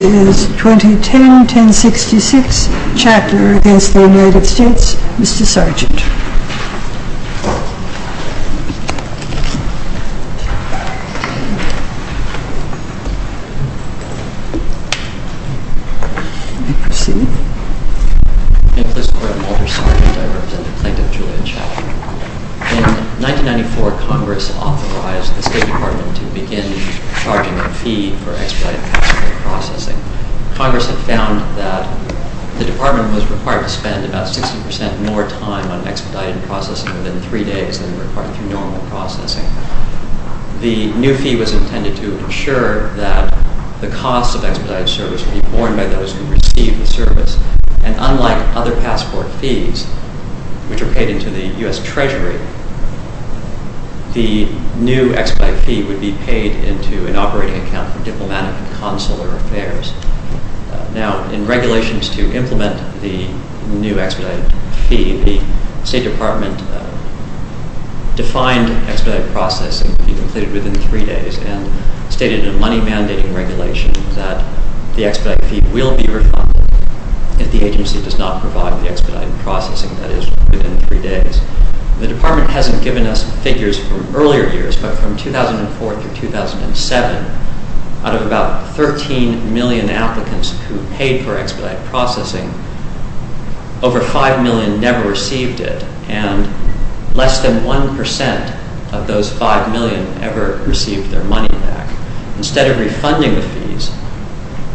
This is 2010-1066, Chattler v. United States. Mr. Sergeant. I'm Cpl. Sgt. Mulder. I represent the Plaintiff, Julian Chattler. In 1994, Congress authorized the State Department to begin charging a fee for expedited passport processing. Congress had found that the Department was required to spend about 60% more time on expedited processing within three days than required through normal processing. The new fee was intended to ensure that the cost of expedited service would be borne by those who received the service. And unlike other passport fees, which are paid into the U.S. Treasury, the new expedited fee would be paid into an operating account for diplomatic and consular affairs. Now, in regulations to implement the new expedited fee, the State Department defined expedited processing would be completed within three days and stated in a money-mandating regulation that the expedited fee will be refunded if the agency does not provide the expedited processing that is within three days. The Department hasn't given us figures from earlier years, but from 2004 through 2007, out of about 13 million applicants who paid for expedited processing, over 5 million never received it, and less than 1% of those 5 million ever received their money back. Instead of refunding the fees,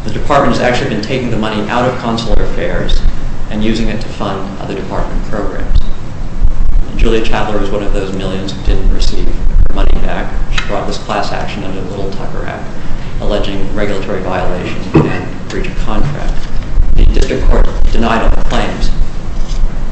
the Department has actually been taking the money out of consular affairs and using it to fund other Department programs. Julia Chattler was one of those millions who didn't receive their money back. She brought this class action under the Little Tucker Act, alleging regulatory violations and breach of contract. The District Court denied all claims.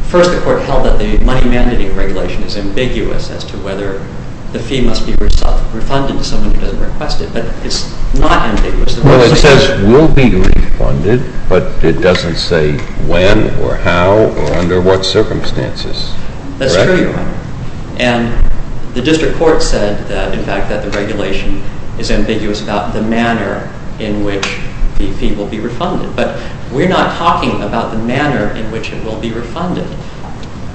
First, the Court held that the money-mandating regulation is ambiguous as to whether the fee must be refunded to someone who doesn't request it, but it's not ambiguous. Well, it says will be refunded, but it doesn't say when or how or under what circumstances. That's true, Your Honor. And the District Court said, in fact, that the regulation is ambiguous about the manner in which the fee will be refunded. But we're not talking about the manner in which it will be refunded.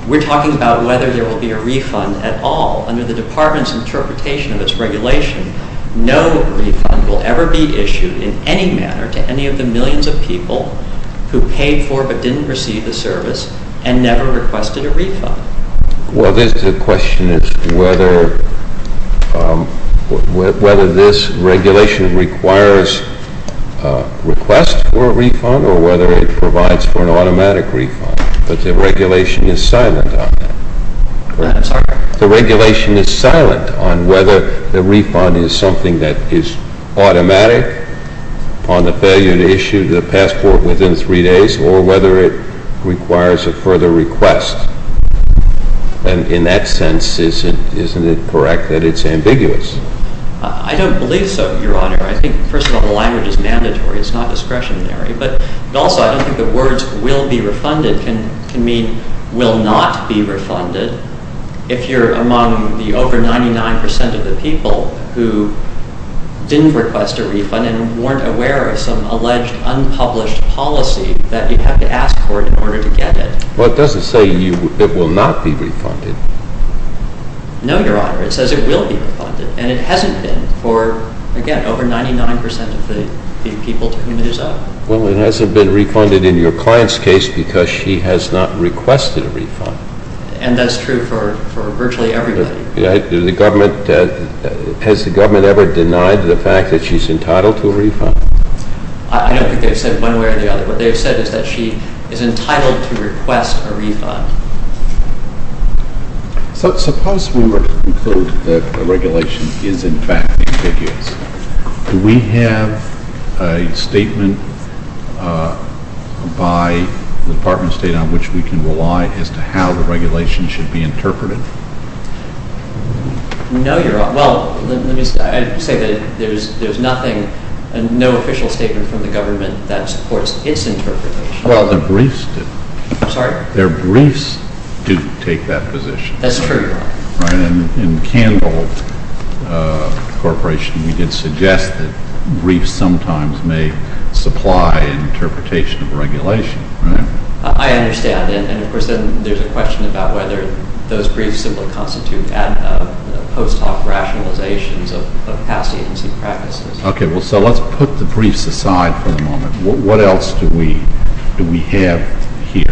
We're talking about whether there will be a refund at all. Under the Department's interpretation of its regulation, no refund will ever be issued in any manner to any of the millions of people who paid for but didn't receive the service and never requested a refund. Well, the question is whether this regulation requires a request for a refund or whether it provides for an automatic refund. But the regulation is silent on that. I'm sorry? In that sense, isn't it correct that it's ambiguous? I don't believe so, Your Honor. I think, first of all, the language is mandatory. It's not discretionary. But also, I don't think the words will be refunded can mean will not be refunded. If you're among the over 99 percent of the people who didn't request a refund and weren't aware of some alleged unpublished policy, that you'd have to ask court in order to get it. Well, it doesn't say it will not be refunded. No, Your Honor. It says it will be refunded. And it hasn't been for, again, over 99 percent of the people to whom it is owed. Well, it hasn't been refunded in your client's case because she has not requested a refund. And that's true for virtually everybody. Has the government ever denied the fact that she's entitled to a refund? I don't think they've said one way or the other. What they've said is that she is entitled to request a refund. So suppose we were to conclude that the regulation is, in fact, ambiguous. Do we have a statement by the Department of State on which we can rely as to how the regulation should be interpreted? No, Your Honor. Well, let me say that there's nothing, no official statement from the government that supports its interpretation. Well, the briefs do. I'm sorry? Their briefs do take that position. That's true. In Candle Corporation, we did suggest that briefs sometimes may supply an interpretation of regulation. I understand. And, of course, then there's a question about whether those briefs simply constitute post hoc rationalizations of past agency practices. Okay. Well, so let's put the briefs aside for the moment. What else do we have here?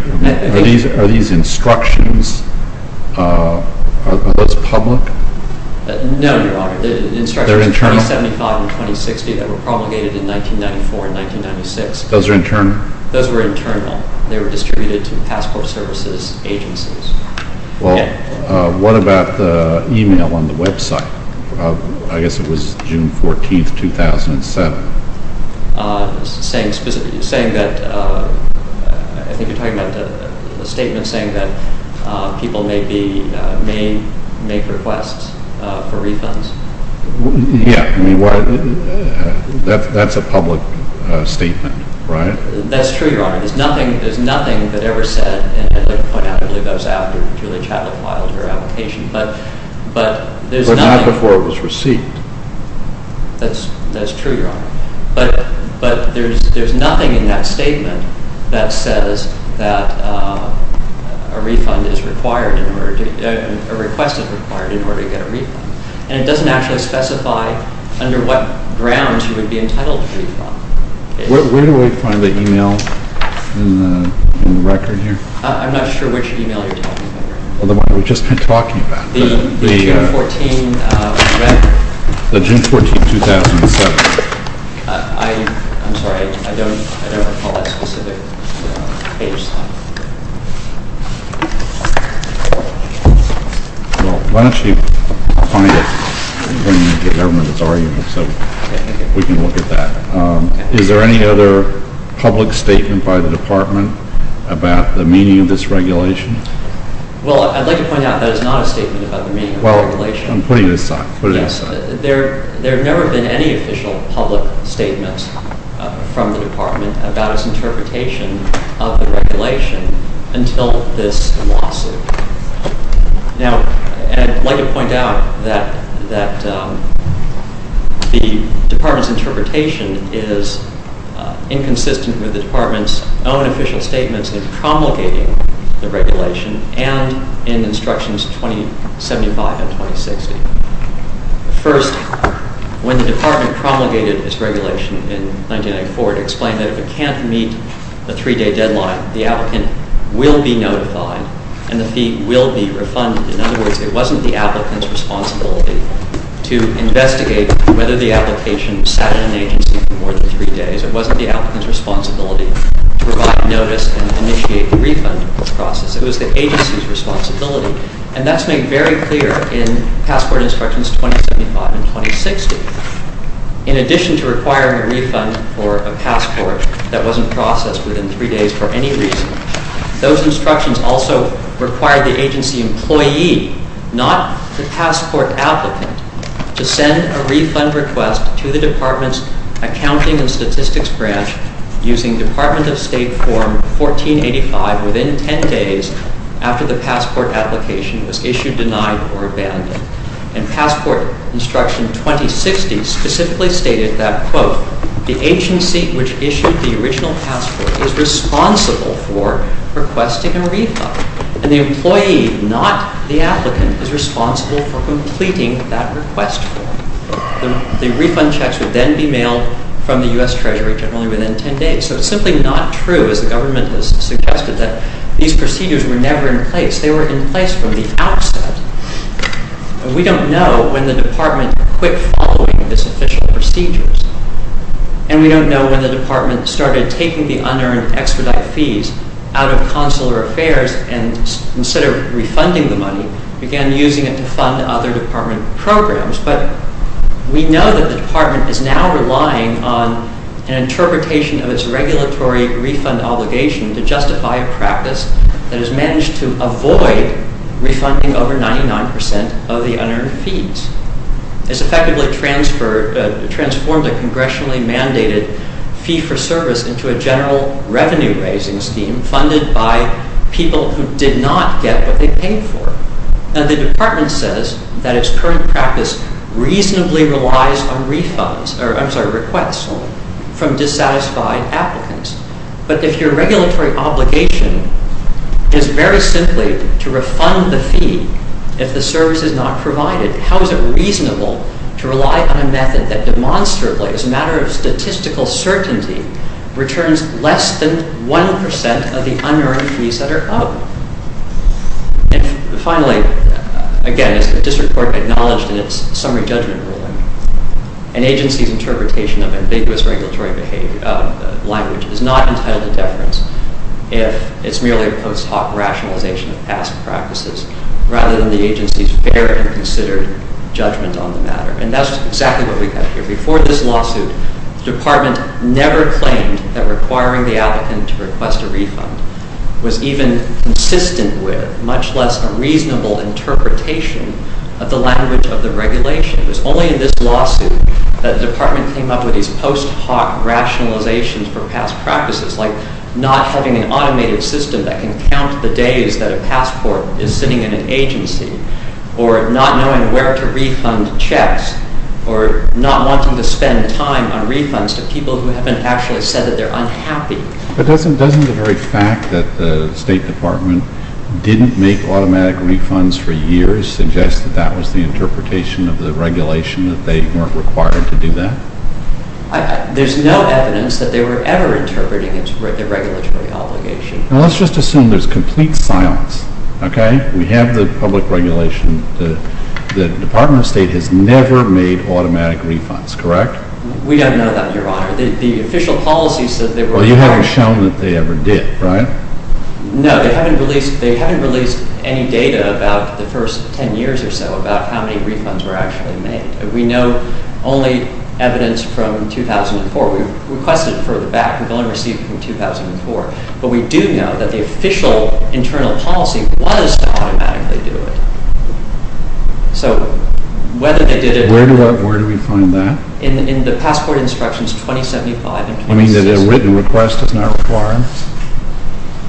Are these instructions, are those public? No, Your Honor. They're internal? The instructions of 2075 and 2060 that were promulgated in 1994 and 1996. Those are internal? Those were internal. They were distributed to passport services agencies. Well, what about the email on the website? I guess it was June 14, 2007. Saying specifically, saying that, I think you're talking about a statement saying that people may be, may make requests for refunds. Yeah, I mean, that's a public statement, right? That's true, Your Honor. There's nothing, there's nothing that ever said, and I'd like to point out, I believe that was after Julie Chatelot filed her application. But there's nothing. But not before it was received. That's true, Your Honor. But there's nothing in that statement that says that a refund is required, a request is required in order to get a refund. And it doesn't actually specify under what grounds you would be entitled to a refund. Where do we find the email in the record here? I'm not sure which email you're talking about, Your Honor. Well, the one we've just been talking about. The June 14 record. The June 14, 2007. I'm sorry, I don't recall that specific page. Well, why don't you find it when the government is arguing, so we can look at that. Is there any other public statement by the Department about the meaning of this regulation? Well, I'd like to point out that is not a statement about the meaning of the regulation. Well, I'm putting it aside. Yes. There have never been any official public statements from the Department about its interpretation of the regulation until this lawsuit. Now, I'd like to point out that the Department's interpretation is inconsistent with the Department's own official statements in promulgating the regulation and in Instructions 2075 and 2060. First, when the Department promulgated its regulation in 1994, it explained that if it can't meet the 3-day deadline, the applicant will be notified and the fee will be refunded. In other words, it wasn't the applicant's responsibility to investigate whether the application sat at an agency for more than 3 days. It wasn't the applicant's responsibility to provide notice and initiate the refund process. It was the agency's responsibility. And that's made very clear in Passport Instructions 2075 and 2060. In addition to requiring a refund for a passport that wasn't processed within 3 days for any reason, those instructions also required the agency employee, not the passport applicant, to send a refund request to the Department's Accounting and Statistics Branch using Department of State Form 1485 within 10 days after the passport application was issued, denied, or abandoned. And Passport Instructions 2060 specifically stated that, quote, the agency which issued the original passport is responsible for requesting a refund, and the employee, not the applicant, is responsible for completing that request form. The refund checks would then be mailed from the U.S. Treasury generally within 10 days. So it's simply not true, as the government has suggested, that these procedures were never in place. They were in place from the outset. We don't know when the Department quit following these official procedures, and we don't know when the Department started taking the unearned extradite fees out of Consular Affairs and instead of refunding the money, began using it to fund other Department programs. But we know that the Department is now relying on an interpretation of its regulatory refund obligation to justify a practice that has managed to avoid refunding over 99% of the unearned fees. It's effectively transformed a congressionally mandated fee for service into a general revenue-raising scheme funded by people who did not get what they paid for. The Department says that its current practice reasonably relies on requests from dissatisfied applicants. But if your regulatory obligation is very simply to refund the fee if the service is not provided, how is it reasonable to rely on a method that demonstrably, as a matter of statistical certainty, returns less than 1% of the unearned fees that are owed? And finally, again, as the District Court acknowledged in its summary judgment ruling, an agency's interpretation of ambiguous regulatory language is not entitled to deference if it's merely a post hoc rationalization of past practices, rather than the agency's fair and considered judgment on the matter. And that's exactly what we have here. Before this lawsuit, the Department never claimed that requiring the applicant to request a refund was even consistent with, much less a reasonable interpretation of the language of the regulation. It was only in this lawsuit that the Department came up with these post hoc rationalizations for past practices, like not having an automated system that can count the days that a passport is sitting in an agency, or not knowing where to refund checks, or not wanting to spend time on refunds to people who haven't actually said that they're unhappy. But doesn't the very fact that the State Department didn't make automatic refunds for years suggest that that was the interpretation of the regulation, that they weren't required to do that? There's no evidence that they were ever interpreting the regulatory obligation. Well, let's just assume there's complete silence, okay? We have the public regulation. The Department of State has never made automatic refunds, correct? We don't know that, Your Honor. The official policy says they were required. Well, you haven't shown that they ever did, right? No, they haven't released any data about the first 10 years or so about how many refunds were actually made. We know only evidence from 2004. We've requested it further back. We've only received it from 2004. But we do know that the official internal policy was to automatically do it. So whether they did it... Where do we find that? In the passport instructions 2075 and 2006. You mean that a written request is not required?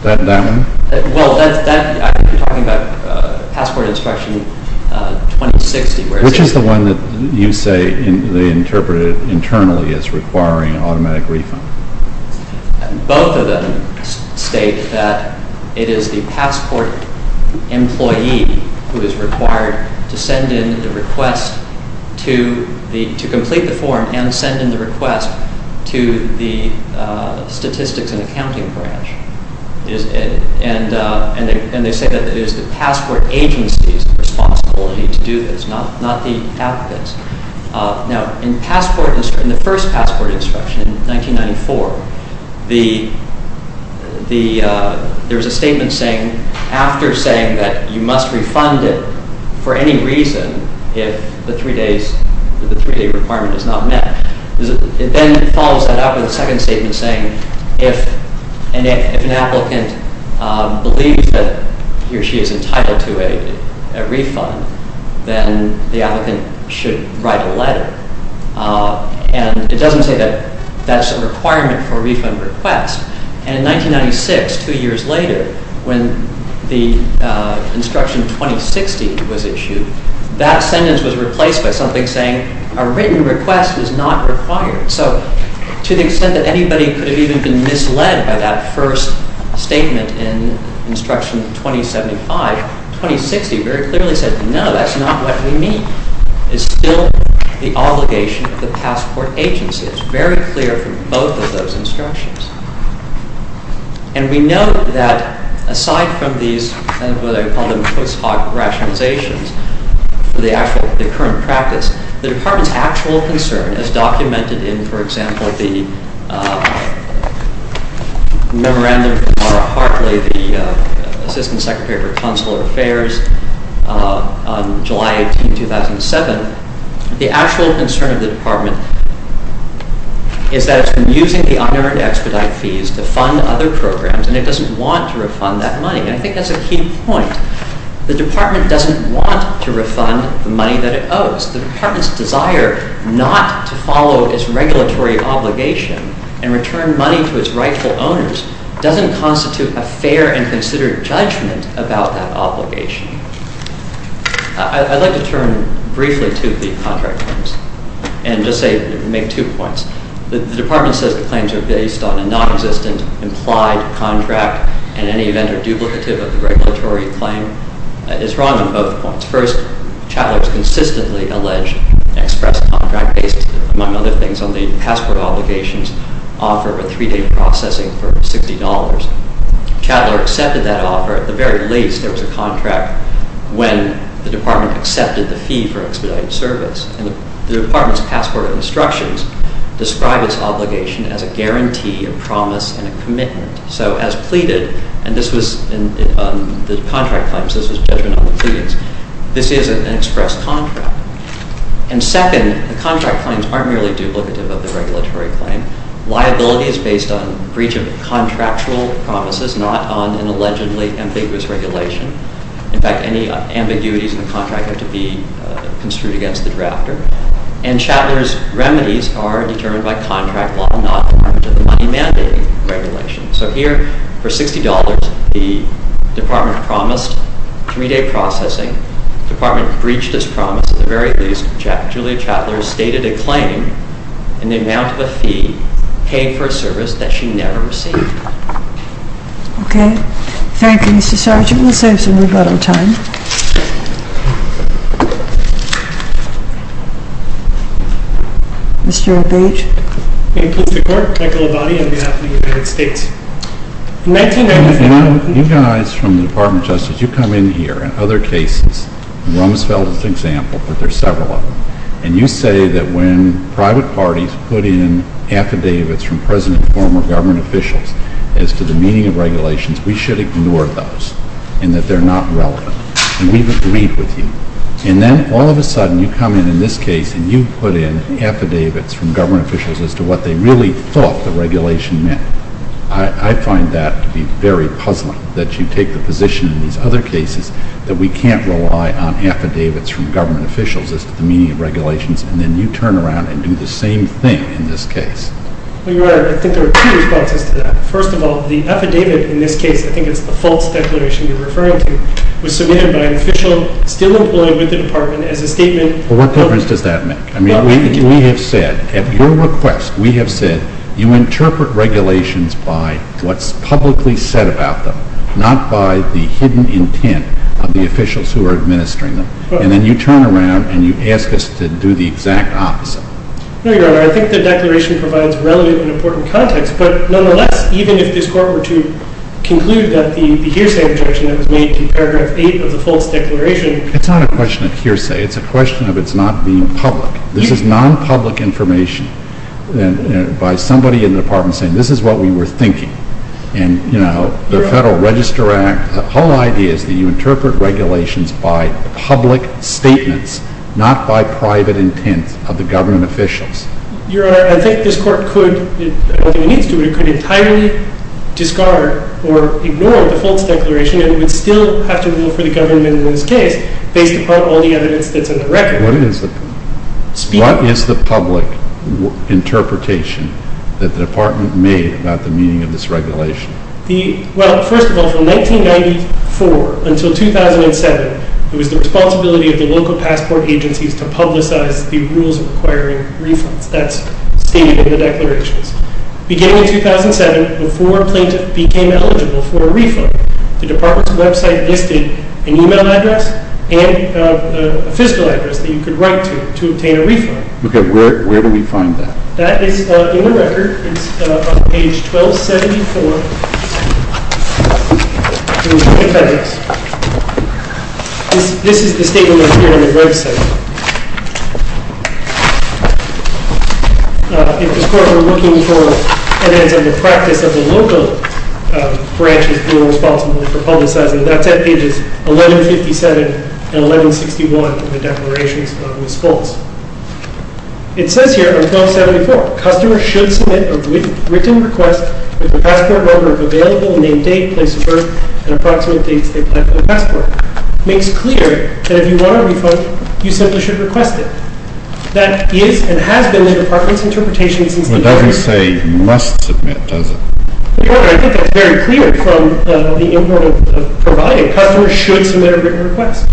That one? Well, I'm talking about passport instruction 2060. Which is the one that you say they interpreted internally as requiring automatic refund? Both of them state that it is the passport employee who is required to send in the request to complete the form and send in the request to the statistics and accounting branch. And they say that it is the passport agency's responsibility to do this, not the applicant's. Now, in the first passport instruction in 1994, there was a statement after saying that you must refund it for any reason if the three-day requirement is not met. It then follows that up with a second statement saying, if an applicant believes that he or she is entitled to a refund, and it doesn't say that that's a requirement for a refund request. And in 1996, two years later, when the instruction 2060 was issued, that sentence was replaced by something saying a written request was not required. So to the extent that anybody could have even been misled by that first statement in instruction 2075, 2060 very clearly said, no, that's not what we mean. It's still the obligation of the passport agency. It's very clear from both of those instructions. And we know that aside from these, what I call them post hoc rationalizations, the actual, the current practice, the Department's actual concern is documented in, for example, the memorandum from Laura Hartley, the Assistant Secretary for Consular Affairs, on July 18, 2007. The actual concern of the Department is that it's been using the unearned expedite fees to fund other programs, and it doesn't want to refund that money. And I think that's a key point. The Department doesn't want to refund the money that it owes. The Department's desire not to follow its regulatory obligation and return money to its rightful owners doesn't constitute a fair and considered judgment about that obligation. I'd like to turn briefly to the contract claims and just say, make two points. The Department says the claims are based on a non-existent implied contract, and in any event are duplicative of the regulatory claim. It's wrong on both points. First, Chattler has consistently alleged an express contract based, among other things, on the passport obligations offer of a three-day processing for $60. Chattler accepted that offer. At the very least, there was a contract when the Department accepted the fee for expedited service. And the Department's passport instructions describe its obligation as a guarantee, a promise, and a commitment. So as pleaded, and this was in the contract claims, this was judgment on the pleadings, this is an express contract. And second, the contract claims aren't merely duplicative of the regulatory claim. Liability is based on breach of contractual promises, not on an allegedly ambiguous regulation. In fact, any ambiguities in the contract have to be construed against the drafter. And Chattler's remedies are determined by contract law, not by the money-mandating regulation. So here, for $60, the Department promised three-day processing. The Department breached its promise. At the very least, Julia Chattler stated a claim in the amount of a fee paid for a service that she never received. Okay. Thank you, Mr. Sergeant. We'll save some rebuttal time. Mr. O'Bage. In the name of the court, Michael Abadie, on behalf of the United States. You guys from the Department of Justice, you come in here in other cases. Rumsfeld is an example, but there are several of them. And you say that when private parties put in affidavits from present and former government officials as to the meaning of regulations, we should ignore those, and that they're not relevant. And we've agreed with you. And then, all of a sudden, you come in in this case and you put in affidavits from government officials as to what they really thought the regulation meant. I find that to be very puzzling, that you take the position in these other cases that we can't rely on affidavits from government officials as to the meaning of regulations, and then you turn around and do the same thing in this case. Well, Your Honor, I think there are two responses to that. First of all, the affidavit in this case, I think it's the false declaration you're referring to, was submitted by an official still employed with the Department as a statement of... Well, what difference does that make? I mean, we have said, at your request, we have said, you interpret regulations by what's publicly said about them, not by the hidden intent of the officials who are administering them. And then you turn around and you ask us to do the exact opposite. No, Your Honor, I think the declaration provides relatively important context, but nonetheless, even if this Court were to conclude that the hearsay objection that was made to paragraph 8 of the false declaration... It's not a question of hearsay. It's a question of it's not being public. This is non-public information by somebody in the Department saying, this is what we were thinking. And, you know, the Federal Register Act, the whole idea is that you interpret regulations by public statements, not by private intent of the government officials. Your Honor, I think this Court could, I don't think it needs to, but it could entirely discard or ignore the false declaration and would still have to vote for the government in this case based upon all the evidence that's in the record. What is the public interpretation that the Department made about the meaning of this regulation? Well, first of all, from 1994 until 2007, it was the responsibility of the local passport agencies to publicize the rules requiring refunds. That's stated in the declarations. Beginning in 2007, before a plaintiff became eligible for a refund, the Department's website listed an email address and a fiscal address that you could write to to obtain a refund. Okay, where do we find that? That is in the record. It's on page 1274 in the Federalist. This is the statement that's here on the website. If this Court were looking for evidence of the practice of the local branches being responsible for publicizing, that's at pages 1157 and 1161 in the declarations of Ms. Fultz. It says here on 1274, customers should submit a written request with the passport number of available, name, date, place of birth, and approximate dates they collect the passport. It makes clear that if you want a refund, you simply should request it. That is and has been the Department's interpretation since the beginning. It doesn't say must submit, does it? No, I think that's very clear from the import of providing. Customers should submit a written request.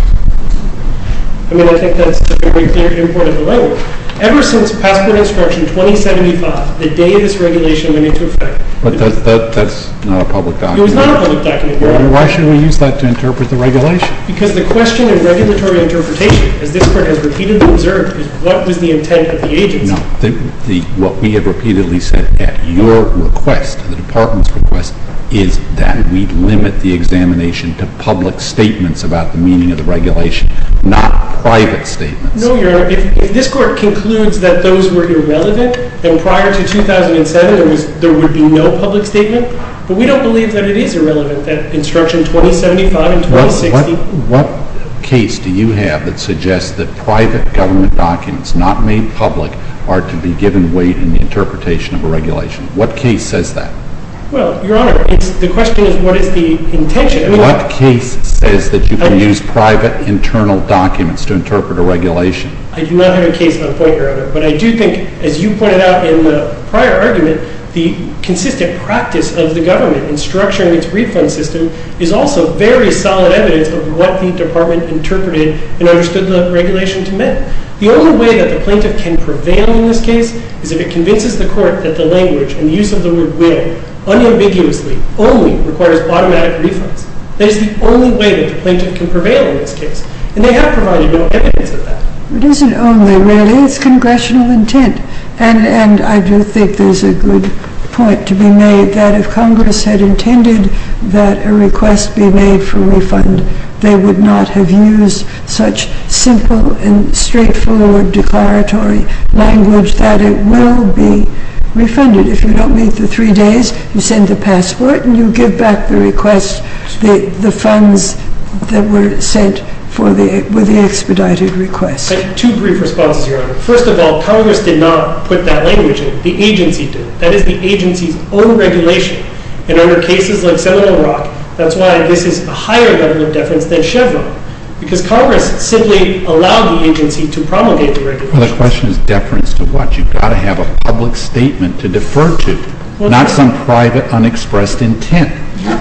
I mean, I think that's a very clear import of the label. Ever since passport instruction 2075, the day this regulation went into effect. But that's not a public document. It was not a public document. Then why should we use that to interpret the regulation? Because the question in regulatory interpretation, as this Court has repeatedly observed, is what was the intent of the agency. No, what we have repeatedly said at your request, the Department's request, is that we'd limit the examination to public statements about the meaning of the regulation, not private statements. No, Your Honor. If this Court concludes that those were irrelevant, then prior to 2007 there would be no public statement. But we don't believe that it is irrelevant, that instruction 2075 and 2060. What case do you have that suggests that private government documents not made public are to be given weight in the interpretation of a regulation? What case says that? Well, Your Honor, the question is what is the intention. What case says that you can use private internal documents to interpret a regulation? I do not have a case on point, Your Honor. But I do think, as you pointed out in the prior argument, the consistent practice of the government in structuring its refund system is also very solid evidence of what the Department interpreted and understood the regulation to mean. The only way that the plaintiff can prevail in this case is if it convinces the Court that the language and use of the word will unambiguously only requires automatic refunds. That is the only way that the plaintiff can prevail in this case. And they have provided no evidence of that. It isn't only, really. It's congressional intent. And I do think there's a good point to be made that if Congress had intended that a request be made for refund, they would not have used such simple and straightforward declaratory language that it will be refunded. If you don't meet the three days, you send the password, and you give back the funds that were sent with the expedited request. I have two brief responses, Your Honor. First of all, Congress did not put that language in. The agency did. That is the agency's own regulation. And under cases like Seminole Rock, that's why this is a higher level of deference than Chevron. Because Congress simply allowed the agency to promulgate the regulation. Well, the question is deference to what? You've got to have a public statement to defer to, not some private, unexpressed intent.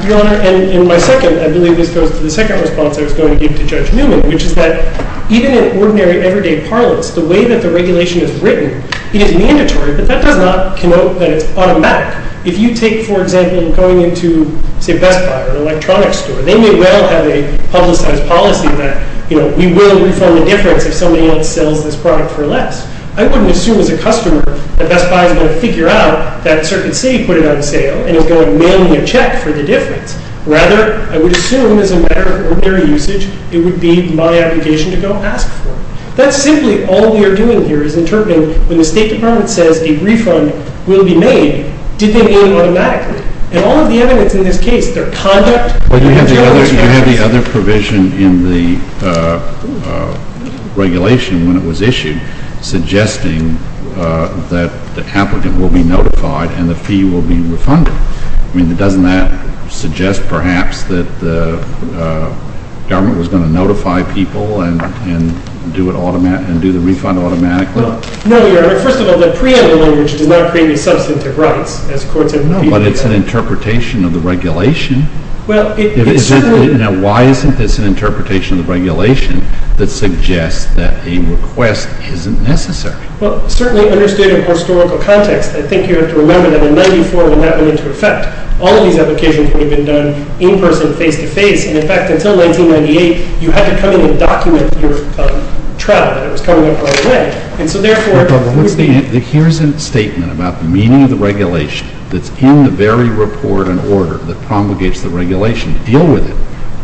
Your Honor, and my second, I believe this goes to the second response I was going to give to Judge Newman, which is that even in ordinary, everyday parlance, the way that the regulation is written, it is mandatory, but that does not connote that it's automatic. If you take, for example, going into, say, Best Buy or an electronics store, they may well have a publicized policy that, you know, we will refund the difference if somebody else sells this product for less. I wouldn't assume as a customer that Best Buy is going to figure out that a certain city put it on sale, and is going to mail me a check for the difference. Rather, I would assume as a matter of ordinary usage, it would be my obligation to go ask for it. That's simply all we are doing here is interpreting when the State Department says a refund will be made, did they mean automatically? And all of the evidence in this case, their conduct, Well, you have the other provision in the regulation when it was issued suggesting that the applicant will be notified and the fee will be refunded. I mean, doesn't that suggest, perhaps, that the government was going to notify people and do the refund automatically? No, Your Honor. First of all, the preemptive language does not create any substantive rights. But it's an interpretation of the regulation. Well, it certainly Now, why isn't this an interpretation of the regulation that suggests that a request isn't necessary? Well, certainly, understood in a historical context, I think you have to remember that in 1994, it would not have been into effect. All of these applications would have been done in person, face-to-face. And, in fact, until 1998, you had to come in and document your travel. It was coming up right away. And so, therefore, Here's a statement about the meaning of the regulation that's in the very report and order that promulgates the regulation. Deal with it.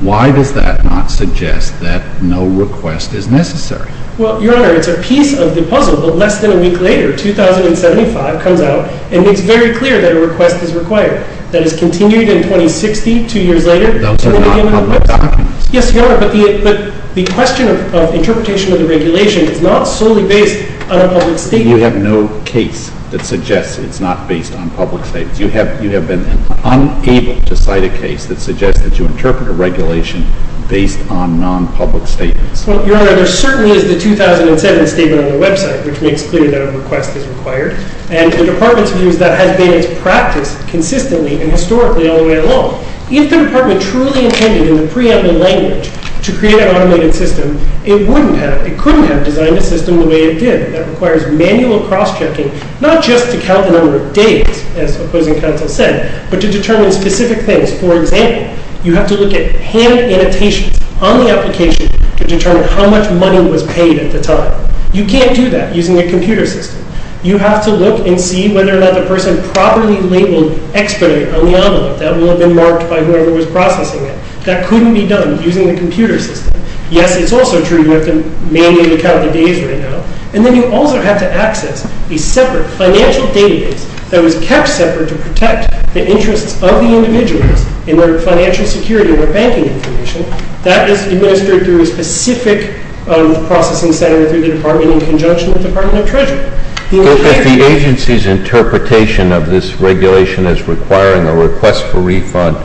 Why does that not suggest that no request is necessary? Well, Your Honor, it's a piece of the puzzle. But less than a week later, 2075 comes out, and it's very clear that a request is required. That is continued in 2060, two years later. Those are not public documents. Yes, Your Honor, but the question of interpretation of the regulation is not solely based on a public statement. You're saying you have no case that suggests it's not based on public statements. You have been unable to cite a case that suggests that you interpret a regulation based on non-public statements. Well, Your Honor, there certainly is the 2007 statement on the website which makes clear that a request is required. And the Department's view is that has been its practice consistently and historically all the way along. If the Department truly intended in the preeminent language to create an automated system, it wouldn't have. It couldn't have designed a system the way it did. That requires manual cross-checking, not just to count the number of days, as opposing counsel said, but to determine specific things. For example, you have to look at hand annotations on the application to determine how much money was paid at the time. You can't do that using a computer system. You have to look and see whether or not the person properly labeled x-ray on the envelope. That will have been marked by whoever was processing it. That couldn't be done using a computer system. Yes, it's also true you have to manually count the days right now. And then you also have to access a separate financial database that was kept separate to protect the interests of the individuals in their financial security and their banking information. That is administered through a specific processing center through the Department in conjunction with the Department of Treasury. If the agency's interpretation of this regulation as requiring a request for refund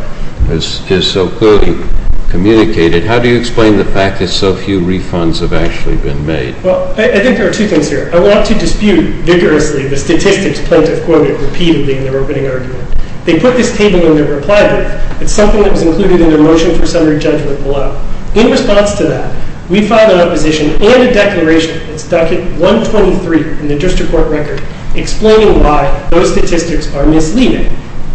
is so clearly communicated, how do you explain the fact that so few refunds have actually been made? Well, I think there are two things here. I want to dispute vigorously the statistics plaintiff quoted repeatedly in their opening argument. They put this table in their reply brief. It's something that was included in their motion for summary judgment below. In response to that, we filed an opposition and a declaration. It's document 123 in the district court record explaining why those statistics are misleading.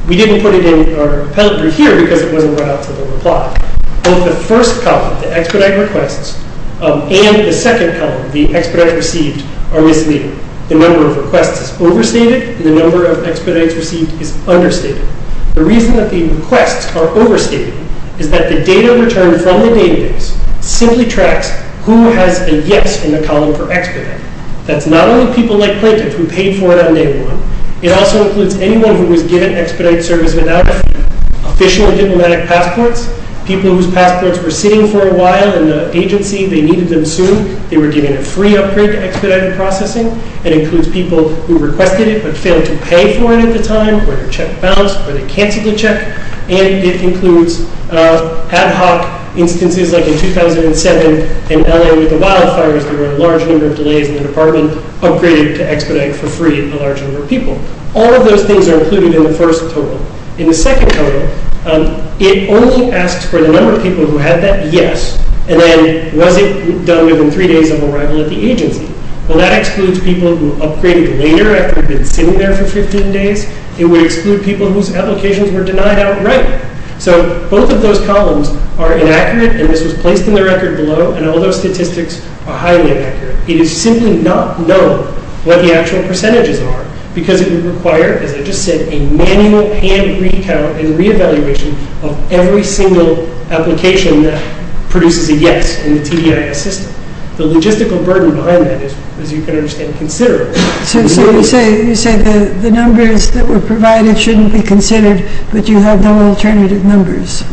We didn't put it in our appellate brief here because it wasn't brought out to the reply. Both the first couple, the expedite requests, and the second couple, the expedite received, are misleading. The number of requests is overstated and the number of expedites received is understated. The reason that the requests are overstated is that the data returned from the database simply tracks who has a yes in the column for expedite. That's not only people like plaintiffs who paid for it on day one. It also includes anyone who was given expedite service without a fee, official diplomatic passports, people whose passports were sitting for a while in the agency. They needed them soon. They were given a free upgrade to expedite processing. It includes people who requested it but failed to pay for it at the time where their check bounced or they canceled the check. It includes ad hoc instances like in 2007 in LA with the wildfires. There were a large number of delays in the department upgraded to expedite for free a large number of people. All of those things are included in the first total. In the second total, it only asks for the number of people who had that yes and then was it done within three days of arrival at the agency. Well, that excludes people who upgraded later after they've been sitting there for 15 days. It would exclude people whose applications were denied outright. So both of those columns are inaccurate and this was placed in the record below and all those statistics are highly inaccurate. It is simply not known what the actual percentages are because it would require, as I just said, a manual hand recount and reevaluation of every single application that produces a yes in the TBIS system. The logistical burden behind that is, as you can understand, considerable. So you say the numbers that were provided shouldn't be considered but you have no alternative numbers.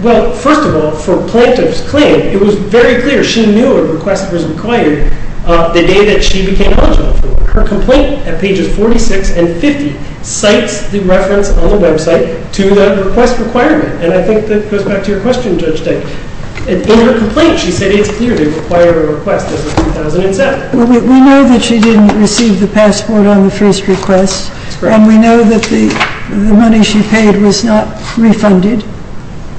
Well, first of all, for a plaintiff's claim, it was very clear she knew a request was required the day that she became eligible. Her complaint at pages 46 and 50 cites the reference on the website to the request requirement and I think that goes back to your question, Judge Day. In her complaint, she said it's clear they require a request as of 2007. We know that she didn't receive the passport on the first request and we know that the money she paid was not refunded.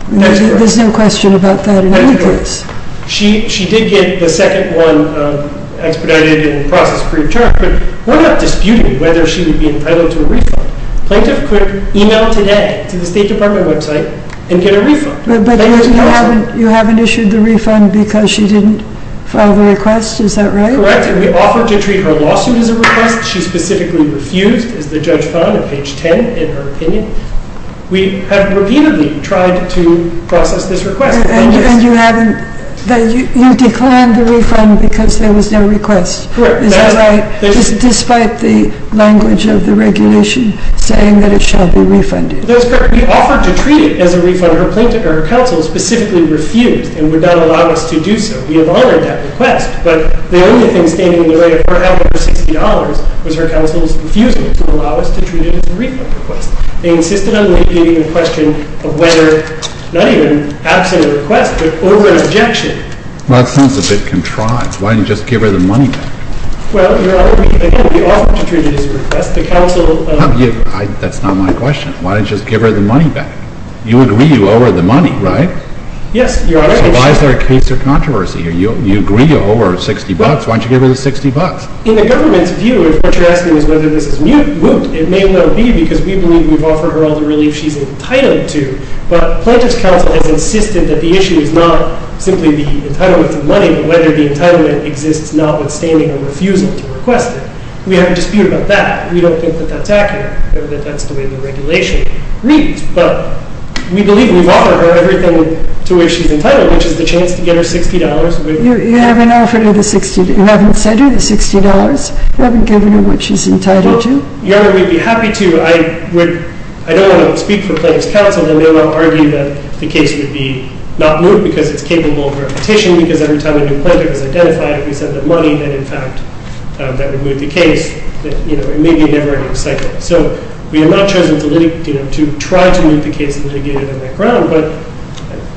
There's no question about that in any case. She did get the second one expedited and processed pre-determined but we're not disputing whether she would be entitled to a refund. Plaintiff could email today to the State Department website and get a refund. But you haven't issued the refund because she didn't file the request? Is that right? Correct, and we offered to treat her lawsuit as a request. She specifically refused, as the judge found at page 10 in her opinion. We have repeatedly tried to process this request. And you declined the refund because there was no request. Is that right? Despite the language of the regulation saying that it shall be refunded. That's correct. We offered to treat it as a refund. Her counsel specifically refused and would not allow us to do so. We have honored that request but the only thing standing in the way of $460 was her counsel's refusal to allow us to treat it as a refund request. They insisted on making a question of whether, not even absent a request, but over an objection. Well, that sounds a bit contrived. Why didn't you just give her the money back? Well, Your Honor, again, we offered to treat it as a request. That's not my question. Why didn't you just give her the money back? You agree you owe her the money, right? Yes, Your Honor. So why is there a case of controversy here? You agree you owe her $60. Why don't you give her the $60? In the government's view, if what you're asking is whether this is moot, it may well be because we believe we've offered her all the relief she's entitled to. But plaintiff's counsel has insisted that the issue is not simply the entitlement to money but whether the entitlement exists notwithstanding a refusal to request it. We have a dispute about that. We don't think that that's accurate or that that's the way the regulation reads. But we believe we've offered her everything to which she's entitled, which is the chance to get her $60. You haven't offered her the $60. You haven't said her the $60. You haven't given her what she's entitled to. Your Honor, we'd be happy to. I don't want to speak for plaintiff's counsel. They may well argue that the case would be not moot because it's capable of repetition because every time a new plaintiff is identified, if we said the money, then in fact that would moot the case. It may be a different cycle. So we have not chosen to try to moot the case and to get it on the ground, but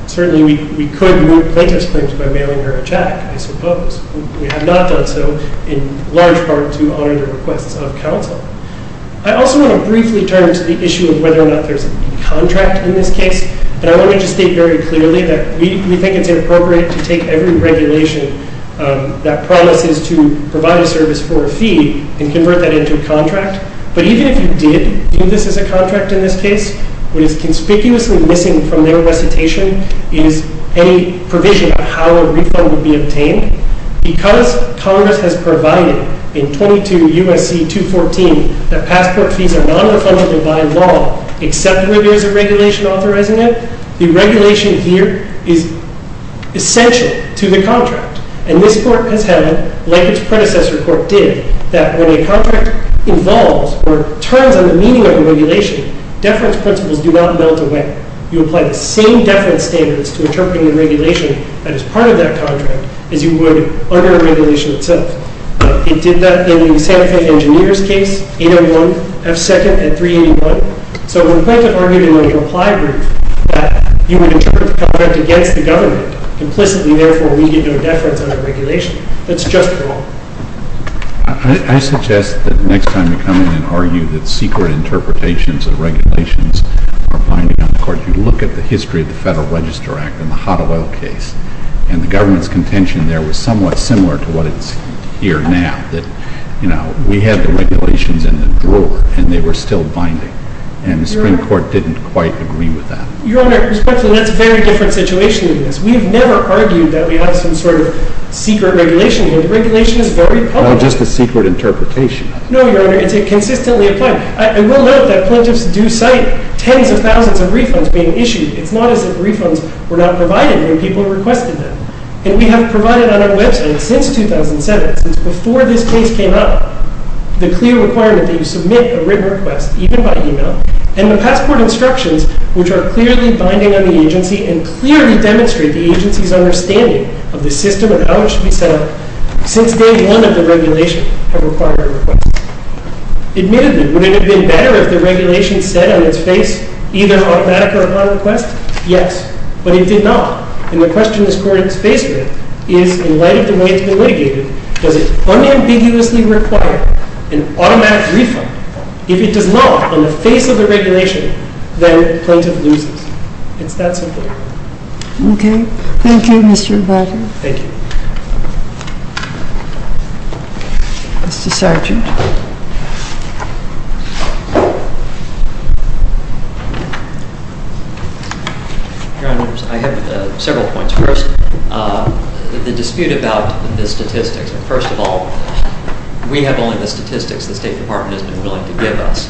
certainly we could moot plaintiff's claims by mailing her a check, I suppose. We have not done so in large part to honor the requests of counsel. I also want to briefly turn to the issue of whether or not there's a contract in this case. And I want to just state very clearly that we think it's inappropriate to take every regulation that promises to provide a service for a fee and convert that into a contract. But even if you did view this as a contract in this case, what is conspicuously missing from their recitation is a provision on how a refund would be obtained. Because Congress has provided in 22 U.S.C. 214 that passport fees are not refundable by law except when there is a regulation authorizing it, the regulation here is essential to the contract. And this court has held, like its predecessor court did, that when a contract involves or turns on the meaning of a regulation, deference principles do not melt away. In this case, you apply the same deference standards to interpreting the regulation that is part of that contract as you would under a regulation itself. It did that in the Santa Fe Engineer's case, 801 F. 2nd and 381. So when a plaintiff argued in a reply group that you would interpret the government against the government, implicitly, therefore, we get no deference on that regulation, that's just wrong. I suggest that next time you come in and argue that secret interpretations of regulations are binding on the court, you look at the history of the Federal Register Act and the Hottewell case, and the government's contention there was somewhat similar to what is here now, that, you know, we had the regulations in the drawer and they were still binding. And the Supreme Court didn't quite agree with that. Your Honor, that's a very different situation than this. We've never argued that we have some sort of secret regulation. The regulation is very public. It's not just a secret interpretation. No, Your Honor, it's consistently applied. I will note that plaintiffs do cite tens of thousands of refunds being issued. It's not as if refunds were not provided when people requested them. And we have provided on our website, since 2007, since before this case came up, the clear requirement that you submit a written request, even by email, and the passport instructions, which are clearly binding on the agency and clearly demonstrate the agency's understanding of the system and how it should be set up, since day one of the regulation, have required a request. Admittedly, would it have been better if the regulation said on its face either an automatic or a non-request? Yes. But it did not. And the question this Court is facing is, in light of the way it's been litigated, does it unambiguously require an automatic refund? If it does not, on the face of the regulation, then plaintiff loses. It's that simple. Okay. Thank you, Mr. Vacker. Thank you. Mr. Sargent. Your Honors, I have several points. First, the dispute about the statistics. First of all, we have only the statistics the State Department has been willing to give us.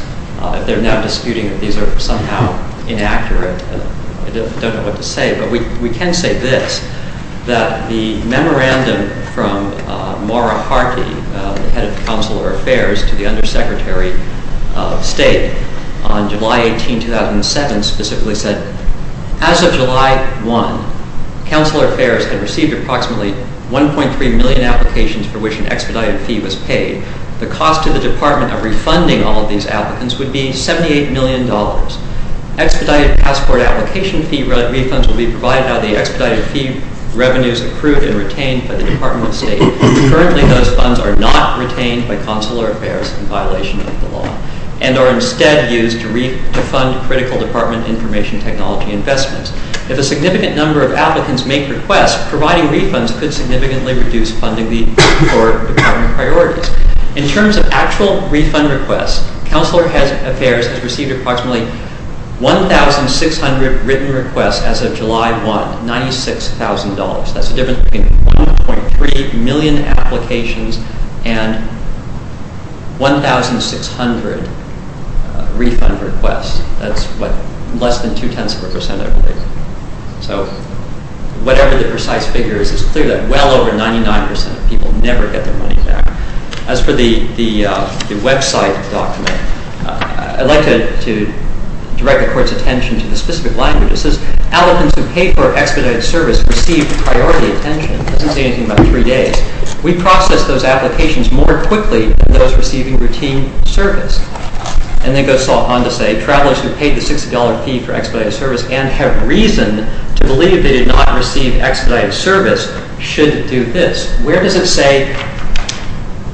They're now disputing that these are somehow inaccurate. I don't know what to say. But we can say this, that the memorandum from Maura Harkey, the head of Counselor Affairs, to the Undersecretary of State, on July 18, 2007, specifically said, as of July 1, Counselor Affairs had received approximately 1.3 million applications for which an expedited fee was paid. The cost to the Department of refunding all of these applicants would be $78 million. Expedited passport application fee refunds will be provided on the expedited fee revenues accrued and retained by the Department of State. Currently, those funds are not retained by Counselor Affairs in violation of the law and are instead used to fund critical Department information technology investments. If a significant number of applicants make requests, providing refunds could significantly reduce funding for Department priorities. In terms of actual refund requests, Counselor Affairs has received approximately 1,600 written requests as of July 1, $96,000. That's the difference between 1.3 million applications and 1,600 refund requests. That's less than two-tenths of a percent, I believe. So whatever the precise figure is, it's clear that well over 99% of people never get their money back. As for the website document, I'd like to direct the Court's attention to the specific language. It says, applicants who paid for expedited service received priority attention. It doesn't say anything about three days. We process those applications more quickly than those receiving routine service. And then it goes on to say, travelers who paid the $60 fee for expedited service and have reason to believe they did not receive expedited service should do this. Where does it say,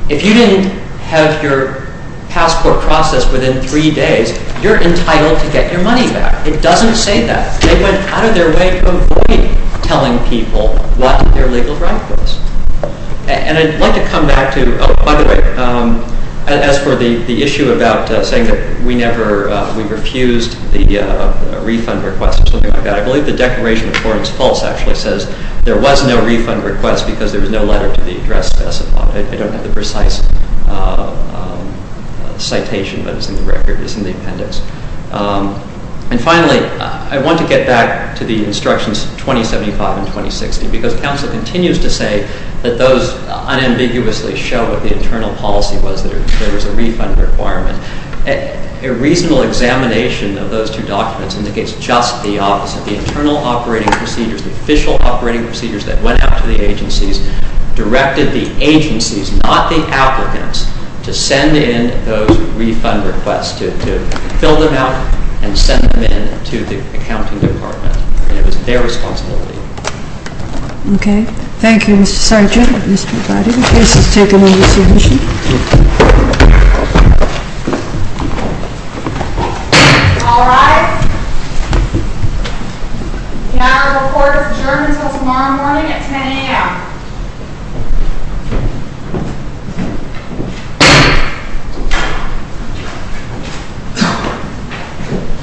if you didn't have your passport processed within three days, you're entitled to get your money back? It doesn't say that. They went out of their way to avoid telling people what their legal right was. And I'd like to come back to, oh, by the way, as for the issue about saying that we never, we refused the refund request or something like that, I believe the Declaration of Clarence False actually says there was no refund request because there was no letter to the address specified. I don't have the precise citation, but it's in the record, it's in the appendix. And finally, I want to get back to the instructions 2075 and 2060, because counsel continues to say that those unambiguously show what the internal policy was, that there was a refund requirement. A reasonable examination of those two documents indicates just the opposite. The internal operating procedures, the official operating procedures that went out to the agencies, directed the agencies, not the applicants, to send in those refund requests, to fill them out and send them in to the accounting department. And it was their responsibility. Okay. Thank you, Mr. Sargent. The case is taken under submission. All rise. The hour of report is adjourned until tomorrow morning at 10 a.m.